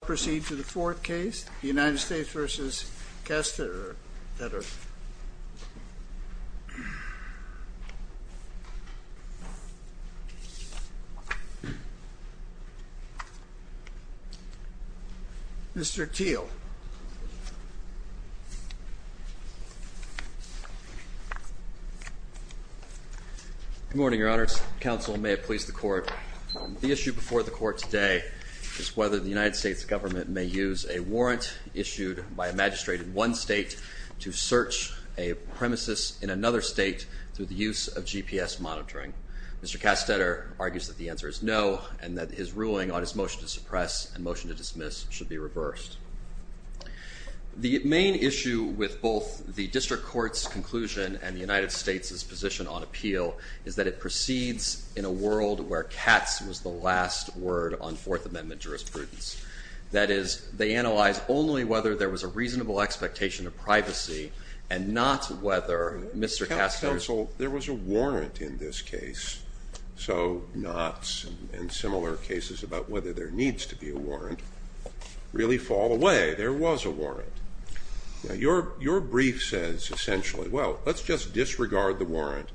I'll proceed to the fourth case, the United States v. Castetter. Mr. Thiel. Good morning, Your Honor. Counsel, may it please the Court. The issue before the Court today is whether the United States government may use a warrant issued by a magistrate in one state to search a premises in another state through the use of GPS monitoring. Mr. Castetter argues that the answer is no and that his ruling on his motion to suppress and motion to dismiss should be reversed. The main issue with both the District Court's conclusion and the United States' position on appeal is that it proceeds in a world where cats was the last word on Fourth Amendment jurisprudence. That is, they analyze only whether there was a reasonable expectation of privacy and not whether Mr. Castetter Counsel, there was a warrant in this case, so knots and similar cases about whether there needs to be a warrant really fall away. There was a warrant. Your brief says essentially, well, let's just disregard the warrant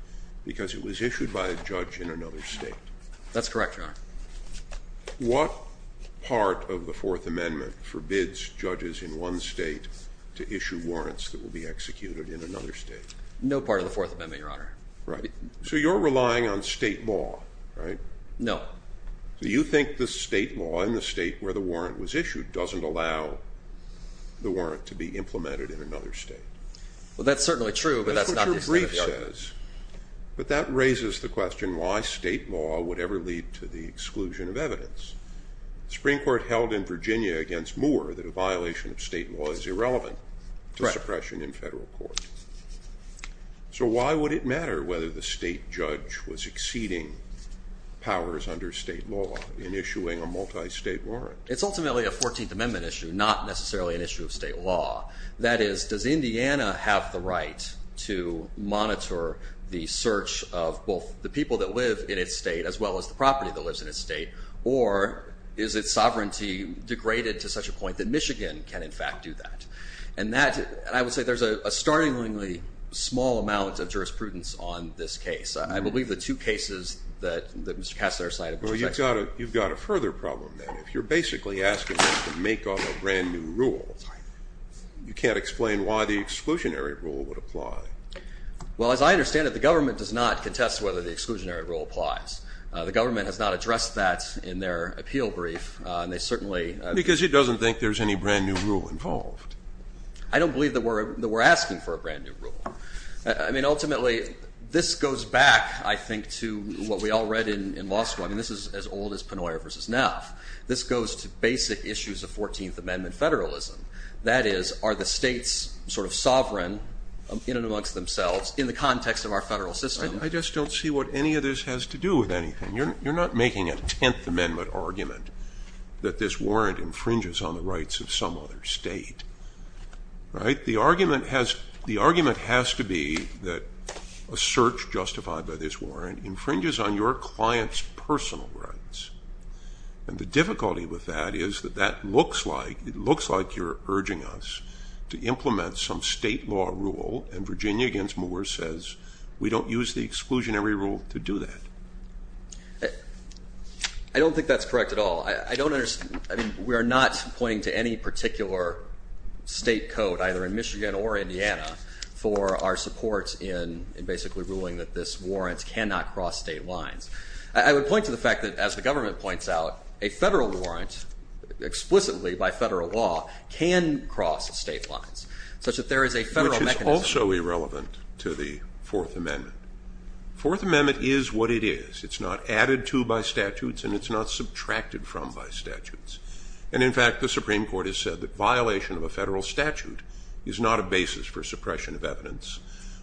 because it was issued by a judge in another state. That's correct, Your Honor. What part of the Fourth Amendment forbids judges in one state to issue warrants that will be executed in another state? No part of the Fourth Amendment, Your Honor. Right. So you're relying on state law, right? No. So you think the state law in the state where the warrant was issued doesn't allow the warrant to be implemented in another state? Well, that's certainly true, but that's not the extent of the argument. That's what your brief says, but that raises the question why state law would ever lead to the exclusion of evidence. The Supreme Court held in Virginia against Moore that a violation of state law is irrelevant to suppression in federal court. So why would it matter whether the state judge was exceeding powers under state law in issuing a multi-state warrant? It's ultimately a 14th Amendment issue, not necessarily an issue of state law. That is, does Indiana have the right to monitor the search of both the people that live in its state as well as the property that lives in its state or is its sovereignty degraded to such a point that Michigan can, in fact, do that? And I would say there's a startlingly small amount of jurisprudence on this case. I believe the two cases that Mr. Kastner cited. Well, you've got a further problem then. If you're basically asking us to make up a brand new rule, you can't explain why the exclusionary rule would apply. Well, as I understand it, the government does not contest whether the exclusionary rule applies. The government has not addressed that in their appeal brief and they certainly Because it doesn't think there's any brand new rule involved. I don't believe that we're asking for a brand new rule. I mean, ultimately, this goes back, I think, to what we all read in law school. I mean, this is as old as Pennoyer v. Neff. This goes to basic issues of 14th Amendment federalism. That is, are the states sort of sovereign in and amongst themselves in the context of our federal system? I just don't see what any of this has to do with anything. You're not making a 10th Amendment argument that this warrant infringes on the rights of some other state. The argument has to be that a search justified by this warrant infringes on your client's personal rights. And the difficulty with that is that that looks like you're urging us to implement some state law rule. And Virginia v. Moore says we don't use the exclusionary rule to do that. I don't think that's correct at all. I don't understand. I mean, we are not pointing to any particular state code, either in Michigan or Indiana, for our support in basically ruling that this warrant cannot cross state lines. I would point to the fact that, as the government points out, a federal warrant, explicitly by federal law, can cross state lines, such that there is a federal mechanism. Which is also irrelevant to the Fourth Amendment. The Fourth Amendment is what it is. It's not added to by statutes, and it's not subtracted from by statutes. And, in fact, the Supreme Court has said that violation of a federal statute is not a basis for suppression of evidence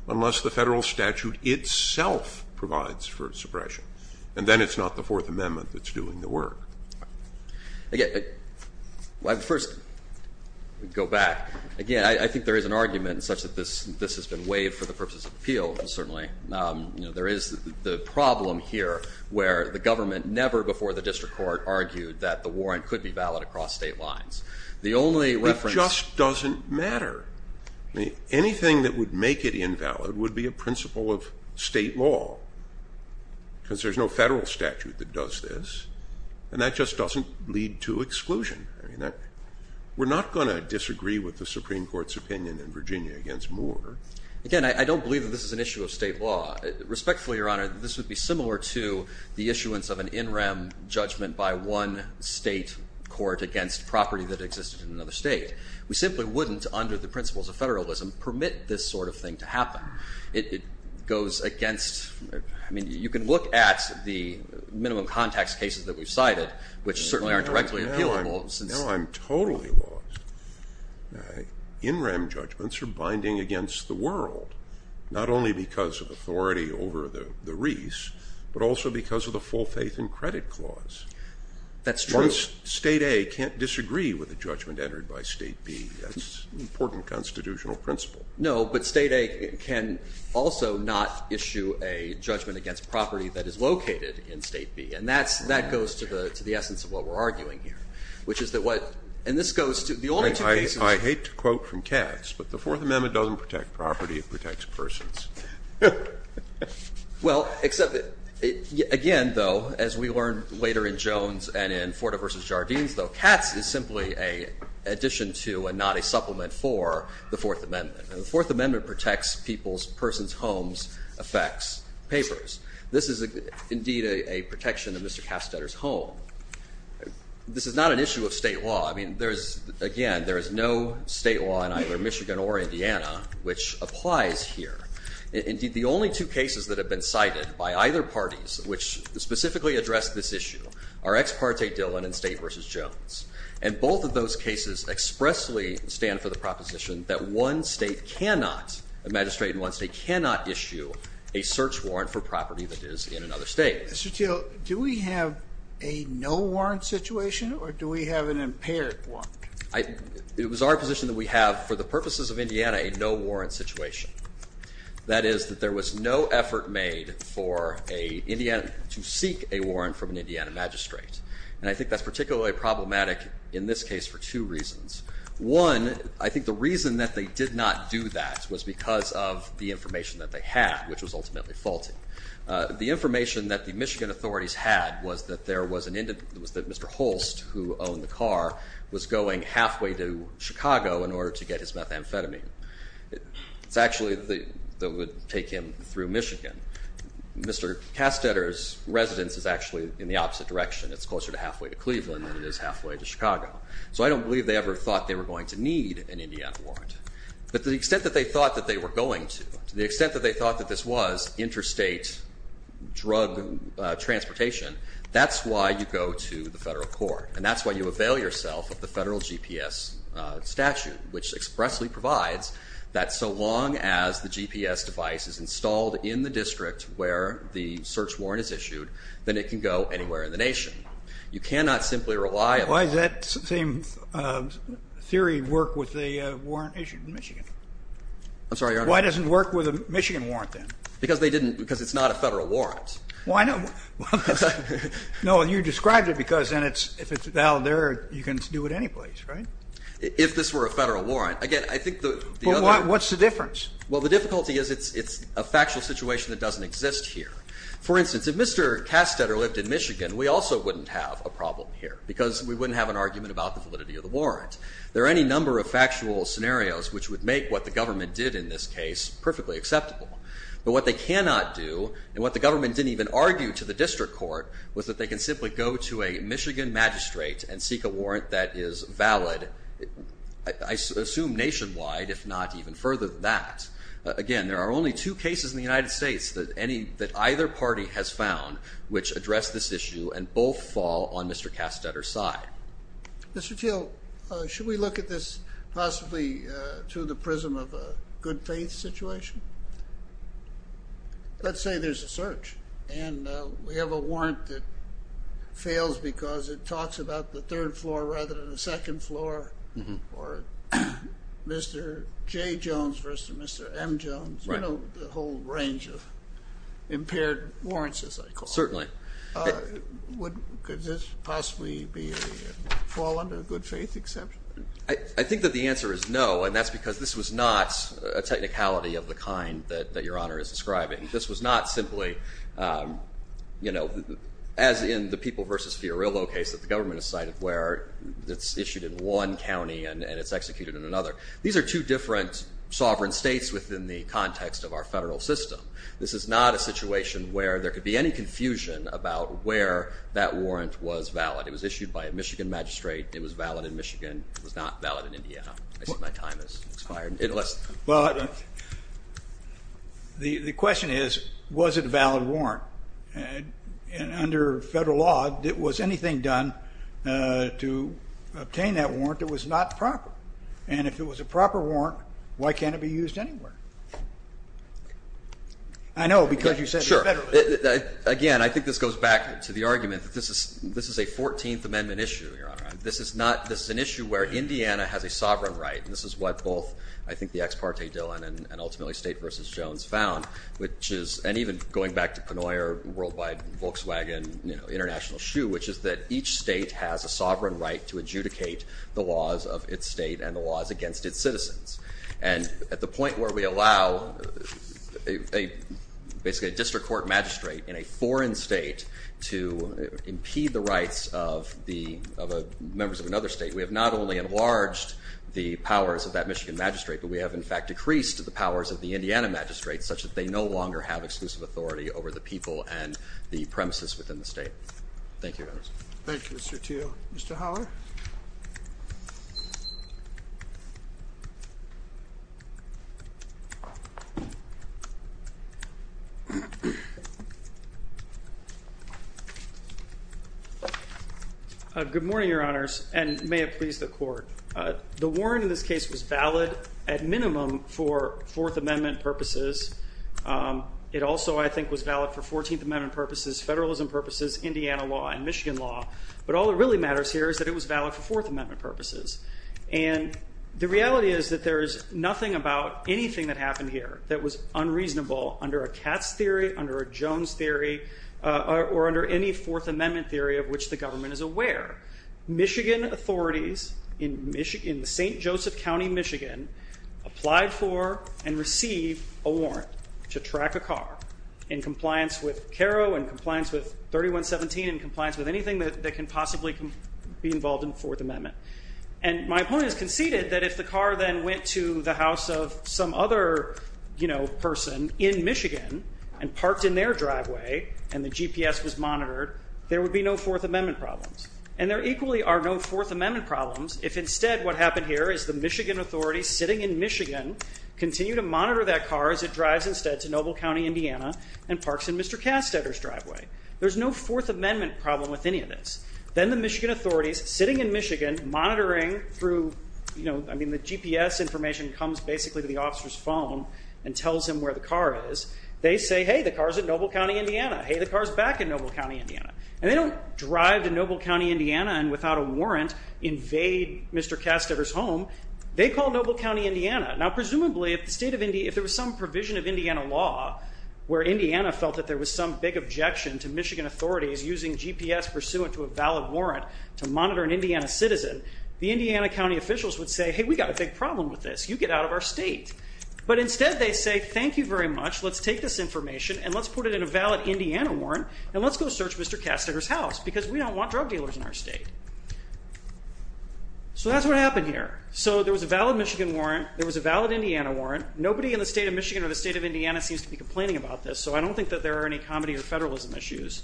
unless the federal statute itself provides for suppression. Again, I would first go back. Again, I think there is an argument in such that this has been waived for the purposes of appeal, certainly. There is the problem here where the government, never before the district court, argued that the warrant could be valid across state lines. It just doesn't matter. Anything that would make it invalid would be a principle of state law, because there's no federal statute that does this. And that just doesn't lead to exclusion. We're not going to disagree with the Supreme Court's opinion in Virginia against Moore. Again, I don't believe that this is an issue of state law. Respectfully, Your Honor, this would be similar to the issuance of an in rem judgment by one state court against property that existed in another state. We simply wouldn't, under the principles of federalism, permit this sort of thing to happen. It goes against, I mean, you can look at the minimum context cases that we've cited, which certainly aren't directly appealable. No, I'm totally lost. In rem judgments are binding against the world, not only because of authority over the wreaths, but also because of the full faith in credit clause. That's true. State A can't disagree with a judgment entered by State B. That's an important constitutional principle. No, but State A can also not issue a judgment against property that is located in State B. And that's, that goes to the essence of what we're arguing here, which is that what, and this goes to the only two cases. I hate to quote from Katz, but the Fourth Amendment doesn't protect property, it protects persons. Well, except that, again, though, as we learn later in Jones and in Forta v. Jardines, though, Katz is simply an addition to and not a supplement for the Fourth Amendment. The Fourth Amendment protects people's persons' homes, affects papers. This is, indeed, a protection of Mr. Kafstetter's home. This is not an issue of State law. I mean, there is, again, there is no State law in either Michigan or Indiana which applies here. Indeed, the only two cases that have been cited by either parties which specifically address this issue are Ex parte Dillon and State v. Jones. And both of those cases expressly stand for the proposition that one State cannot, a magistrate in one State cannot issue a search warrant for property that is in another State. Sotomayor, do we have a no-warrant situation or do we have an impaired warrant? It was our position that we have, for the purposes of Indiana, a no-warrant situation. That is, that there was no effort made for a Indiana, to seek a warrant from an Indiana magistrate. And I think that's particularly problematic in this case for two reasons. One, I think the reason that they did not do that was because of the information that they had, which was ultimately faulty. The information that the Michigan authorities had was that there was an, it was that Mr. Holst, who owned the car, was going halfway to Chicago in order to get his methamphetamine. It's actually the, that would take him through Michigan. Mr. Kafstetter's residence is actually in the opposite direction. It's closer to halfway to Cleveland than it is halfway to Chicago. So I don't believe they ever thought they were going to need an Indiana warrant. But to the extent that they thought that they were going to, to the extent that they thought that this was interstate drug transportation, that's why you go to the federal court. And that's why you avail yourself of the federal GPS statute, which expressly provides that so long as the GPS device is installed in the district where the warrant is in the nation, you cannot simply rely on. Why does that same theory work with the warrant issued in Michigan? I'm sorry, Your Honor. Why doesn't it work with a Michigan warrant then? Because they didn't, because it's not a federal warrant. Why not? No, you described it because then it's, if it's valid there, you can do it anyplace, right? If this were a federal warrant. Again, I think the other. Well, what's the difference? Well, the difficulty is it's a factual situation that doesn't exist here. For instance, if Mr. Kastetter lived in Michigan, we also wouldn't have a problem here because we wouldn't have an argument about the validity of the warrant. There are any number of factual scenarios which would make what the government did in this case perfectly acceptable. But what they cannot do and what the government didn't even argue to the district court was that they can simply go to a Michigan magistrate and seek a warrant that is valid, I assume nationwide, if not even further than that. Again, there are only two cases in the United States that either party has found which address this issue and both fall on Mr. Kastetter's side. Mr. Teel, should we look at this possibly through the prism of a good faith situation? Let's say there's a search and we have a warrant that fails because it talks about the third floor rather than the second floor or Mr. J. Jones versus Mr. M. Jones, the whole range of impaired warrants, as I call them. Certainly. Could this possibly fall under a good faith exception? I think that the answer is no, and that's because this was not a technicality of the kind that Your Honor is describing. This was not simply, as in the people versus Fiorillo case, that the government decided where it's issued in one county and it's executed in another. These are two different sovereign states within the context of our federal system. This is not a situation where there could be any confusion about where that warrant was valid. It was issued by a Michigan magistrate. It was valid in Michigan. It was not valid in Indiana. I see my time has expired. Well, the question is, was it a valid warrant? Under federal law, was anything done to obtain that warrant that was not proper? And if it was a proper warrant, why can't it be used anywhere? I know because you said it's federal. Sure. Again, I think this goes back to the argument that this is a 14th Amendment issue, Your Honor. This is an issue where Indiana has a sovereign right, and this is what both I think the ex parte Dillon and ultimately State versus Jones found, which is, and even going back to Pennoyer, Worldwide, Volkswagen, International Shoe, which is that each state has a sovereign right to adjudicate the laws of its state and the laws against its citizens. At the point where we allow basically a district court magistrate in a foreign state to impede the rights of members of another state, we have not only enlarged the powers of that Michigan magistrate, but we have, in fact, decreased the powers of the Indiana magistrate such that they no longer have exclusive authority over the people and the premises within the state. Thank you, Your Honors. Thank you, Mr. Thiel. Mr. Howell. Good morning, Your Honors, and may it please the Court. The warrant in this case was valid at minimum for Fourth Amendment purposes. It also, I think, was valid for Fourteenth Amendment purposes, federalism purposes, Indiana law, and Michigan law. But all that really matters here is that it was valid for Fourth Amendment purposes. And the reality is that there is nothing about anything that happened here that was unreasonable under a Katz theory, under a Jones theory, or under any Fourth Amendment theory of which the government is aware. Michigan authorities in the St. Joseph County, Michigan, applied for and granted a warrant to track a car in compliance with CARO, in compliance with 3117, in compliance with anything that can possibly be involved in Fourth Amendment. And my opponent has conceded that if the car then went to the house of some other, you know, person in Michigan and parked in their driveway and the GPS was monitored, there would be no Fourth Amendment problems. And there equally are no Fourth Amendment problems if instead what happened here is the Michigan authorities sitting in Michigan continue to monitor that car as it drives instead to Noble County, Indiana, and parks in Mr. Kastetter's driveway. There's no Fourth Amendment problem with any of this. Then the Michigan authorities, sitting in Michigan, monitoring through, you know, I mean, the GPS information comes basically to the officer's phone and tells him where the car is. They say, hey, the car's at Noble County, Indiana. Hey, the car's back at Noble County, Indiana. And they don't drive to Noble County, Indiana, and without a warrant, invade Mr. Kastetter's home. They call Noble County, Indiana. Now, presumably, if there was some provision of Indiana law where Indiana felt that there was some big objection to Michigan authorities using GPS pursuant to a valid warrant to monitor an Indiana citizen, the Indiana County officials would say, hey, we've got a big problem with this. You get out of our state. But instead they say, thank you very much. Let's take this information and let's put it in a valid Indiana warrant and let's go search Mr. Kastetter's house because we don't want drug dealers in our state. So that's what happened here. So there was a valid Michigan warrant. There was a valid Indiana warrant. Nobody in the state of Michigan or the state of Indiana seems to be complaining about this, so I don't think that there are any comedy or federalism issues.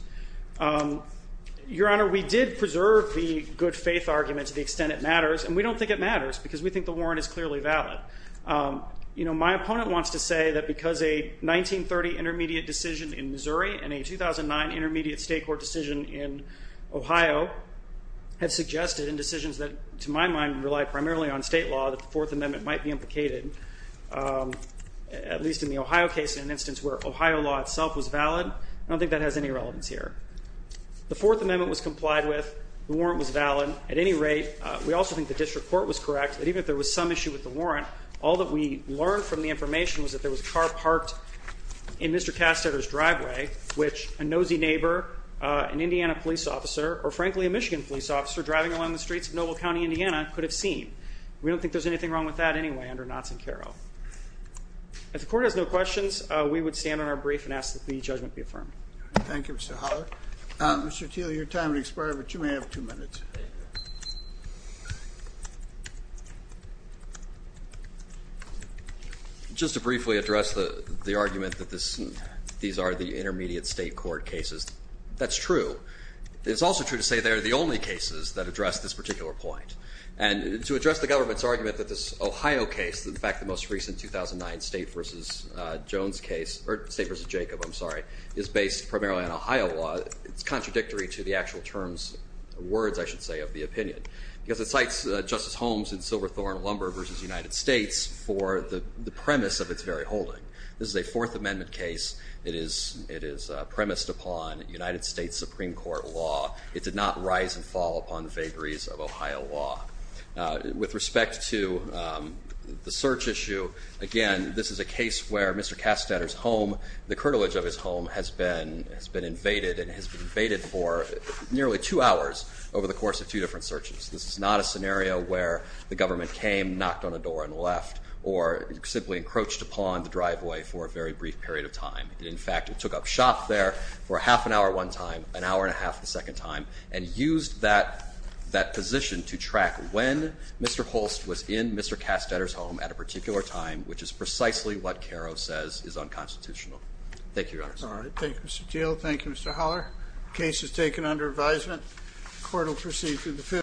Your Honor, we did preserve the good faith argument to the extent it matters, and we don't think it matters because we think the warrant is clearly valid. You know, my opponent wants to say that because a 1930 intermediate decision in Missouri and a 2009 intermediate state court decision in Ohio have suggested in decisions that, to my mind, rely primarily on state law that the Fourth Amendment might be implicated, at least in the Ohio case in an instance where Ohio law itself was valid. I don't think that has any relevance here. The Fourth Amendment was complied with. The warrant was valid. At any rate, we also think the district court was correct that even if there was some issue with the warrant, all that we learned from the information was that there was a car parked in Mr. Kastetter's driveway, which a nosy driving along the streets of Noble County, Indiana, could have seen. We don't think there's anything wrong with that anyway under Knotts and Carrow. If the court has no questions, we would stand on our brief and ask that the judgment be affirmed. Thank you, Mr. Holler. Mr. Thiele, your time has expired, but you may have two minutes. Just to briefly address the argument that these are the intermediate state court cases, that's true. It's also true to say they are the only cases that address this particular point. And to address the government's argument that this Ohio case, in fact the most recent 2009 State v. Jacob, is based primarily on Ohio law, it's contradictory to the actual terms, words I should say, of the opinion. Because it cites Justice Holmes in Silverthorne Lumber v. United States for the premise of its very holding. This is a Fourth Amendment case. It is premised upon United States Supreme Court law. It did not rise and fall upon the vagaries of Ohio law. With respect to the search issue, again, this is a case where Mr. Castaner's home, the curtilage of his home, has been invaded and has been invaded for nearly two hours over the course of two different searches. This is not a scenario where the government came, knocked on the door and left, or simply encroached upon the driveway for a very brief period of time. In fact, it took up shop there for a half an hour one time, an hour and a half the second time, and used that position to track when Mr. Holst was in Mr. Castaner's home at a particular time, which is precisely what Caro says is unconstitutional. Thank you, Your Honor. All right. Thank you, Mr. Teel. Thank you, Mr. Holler. Case is taken under advisement. Court will proceed to the fifth.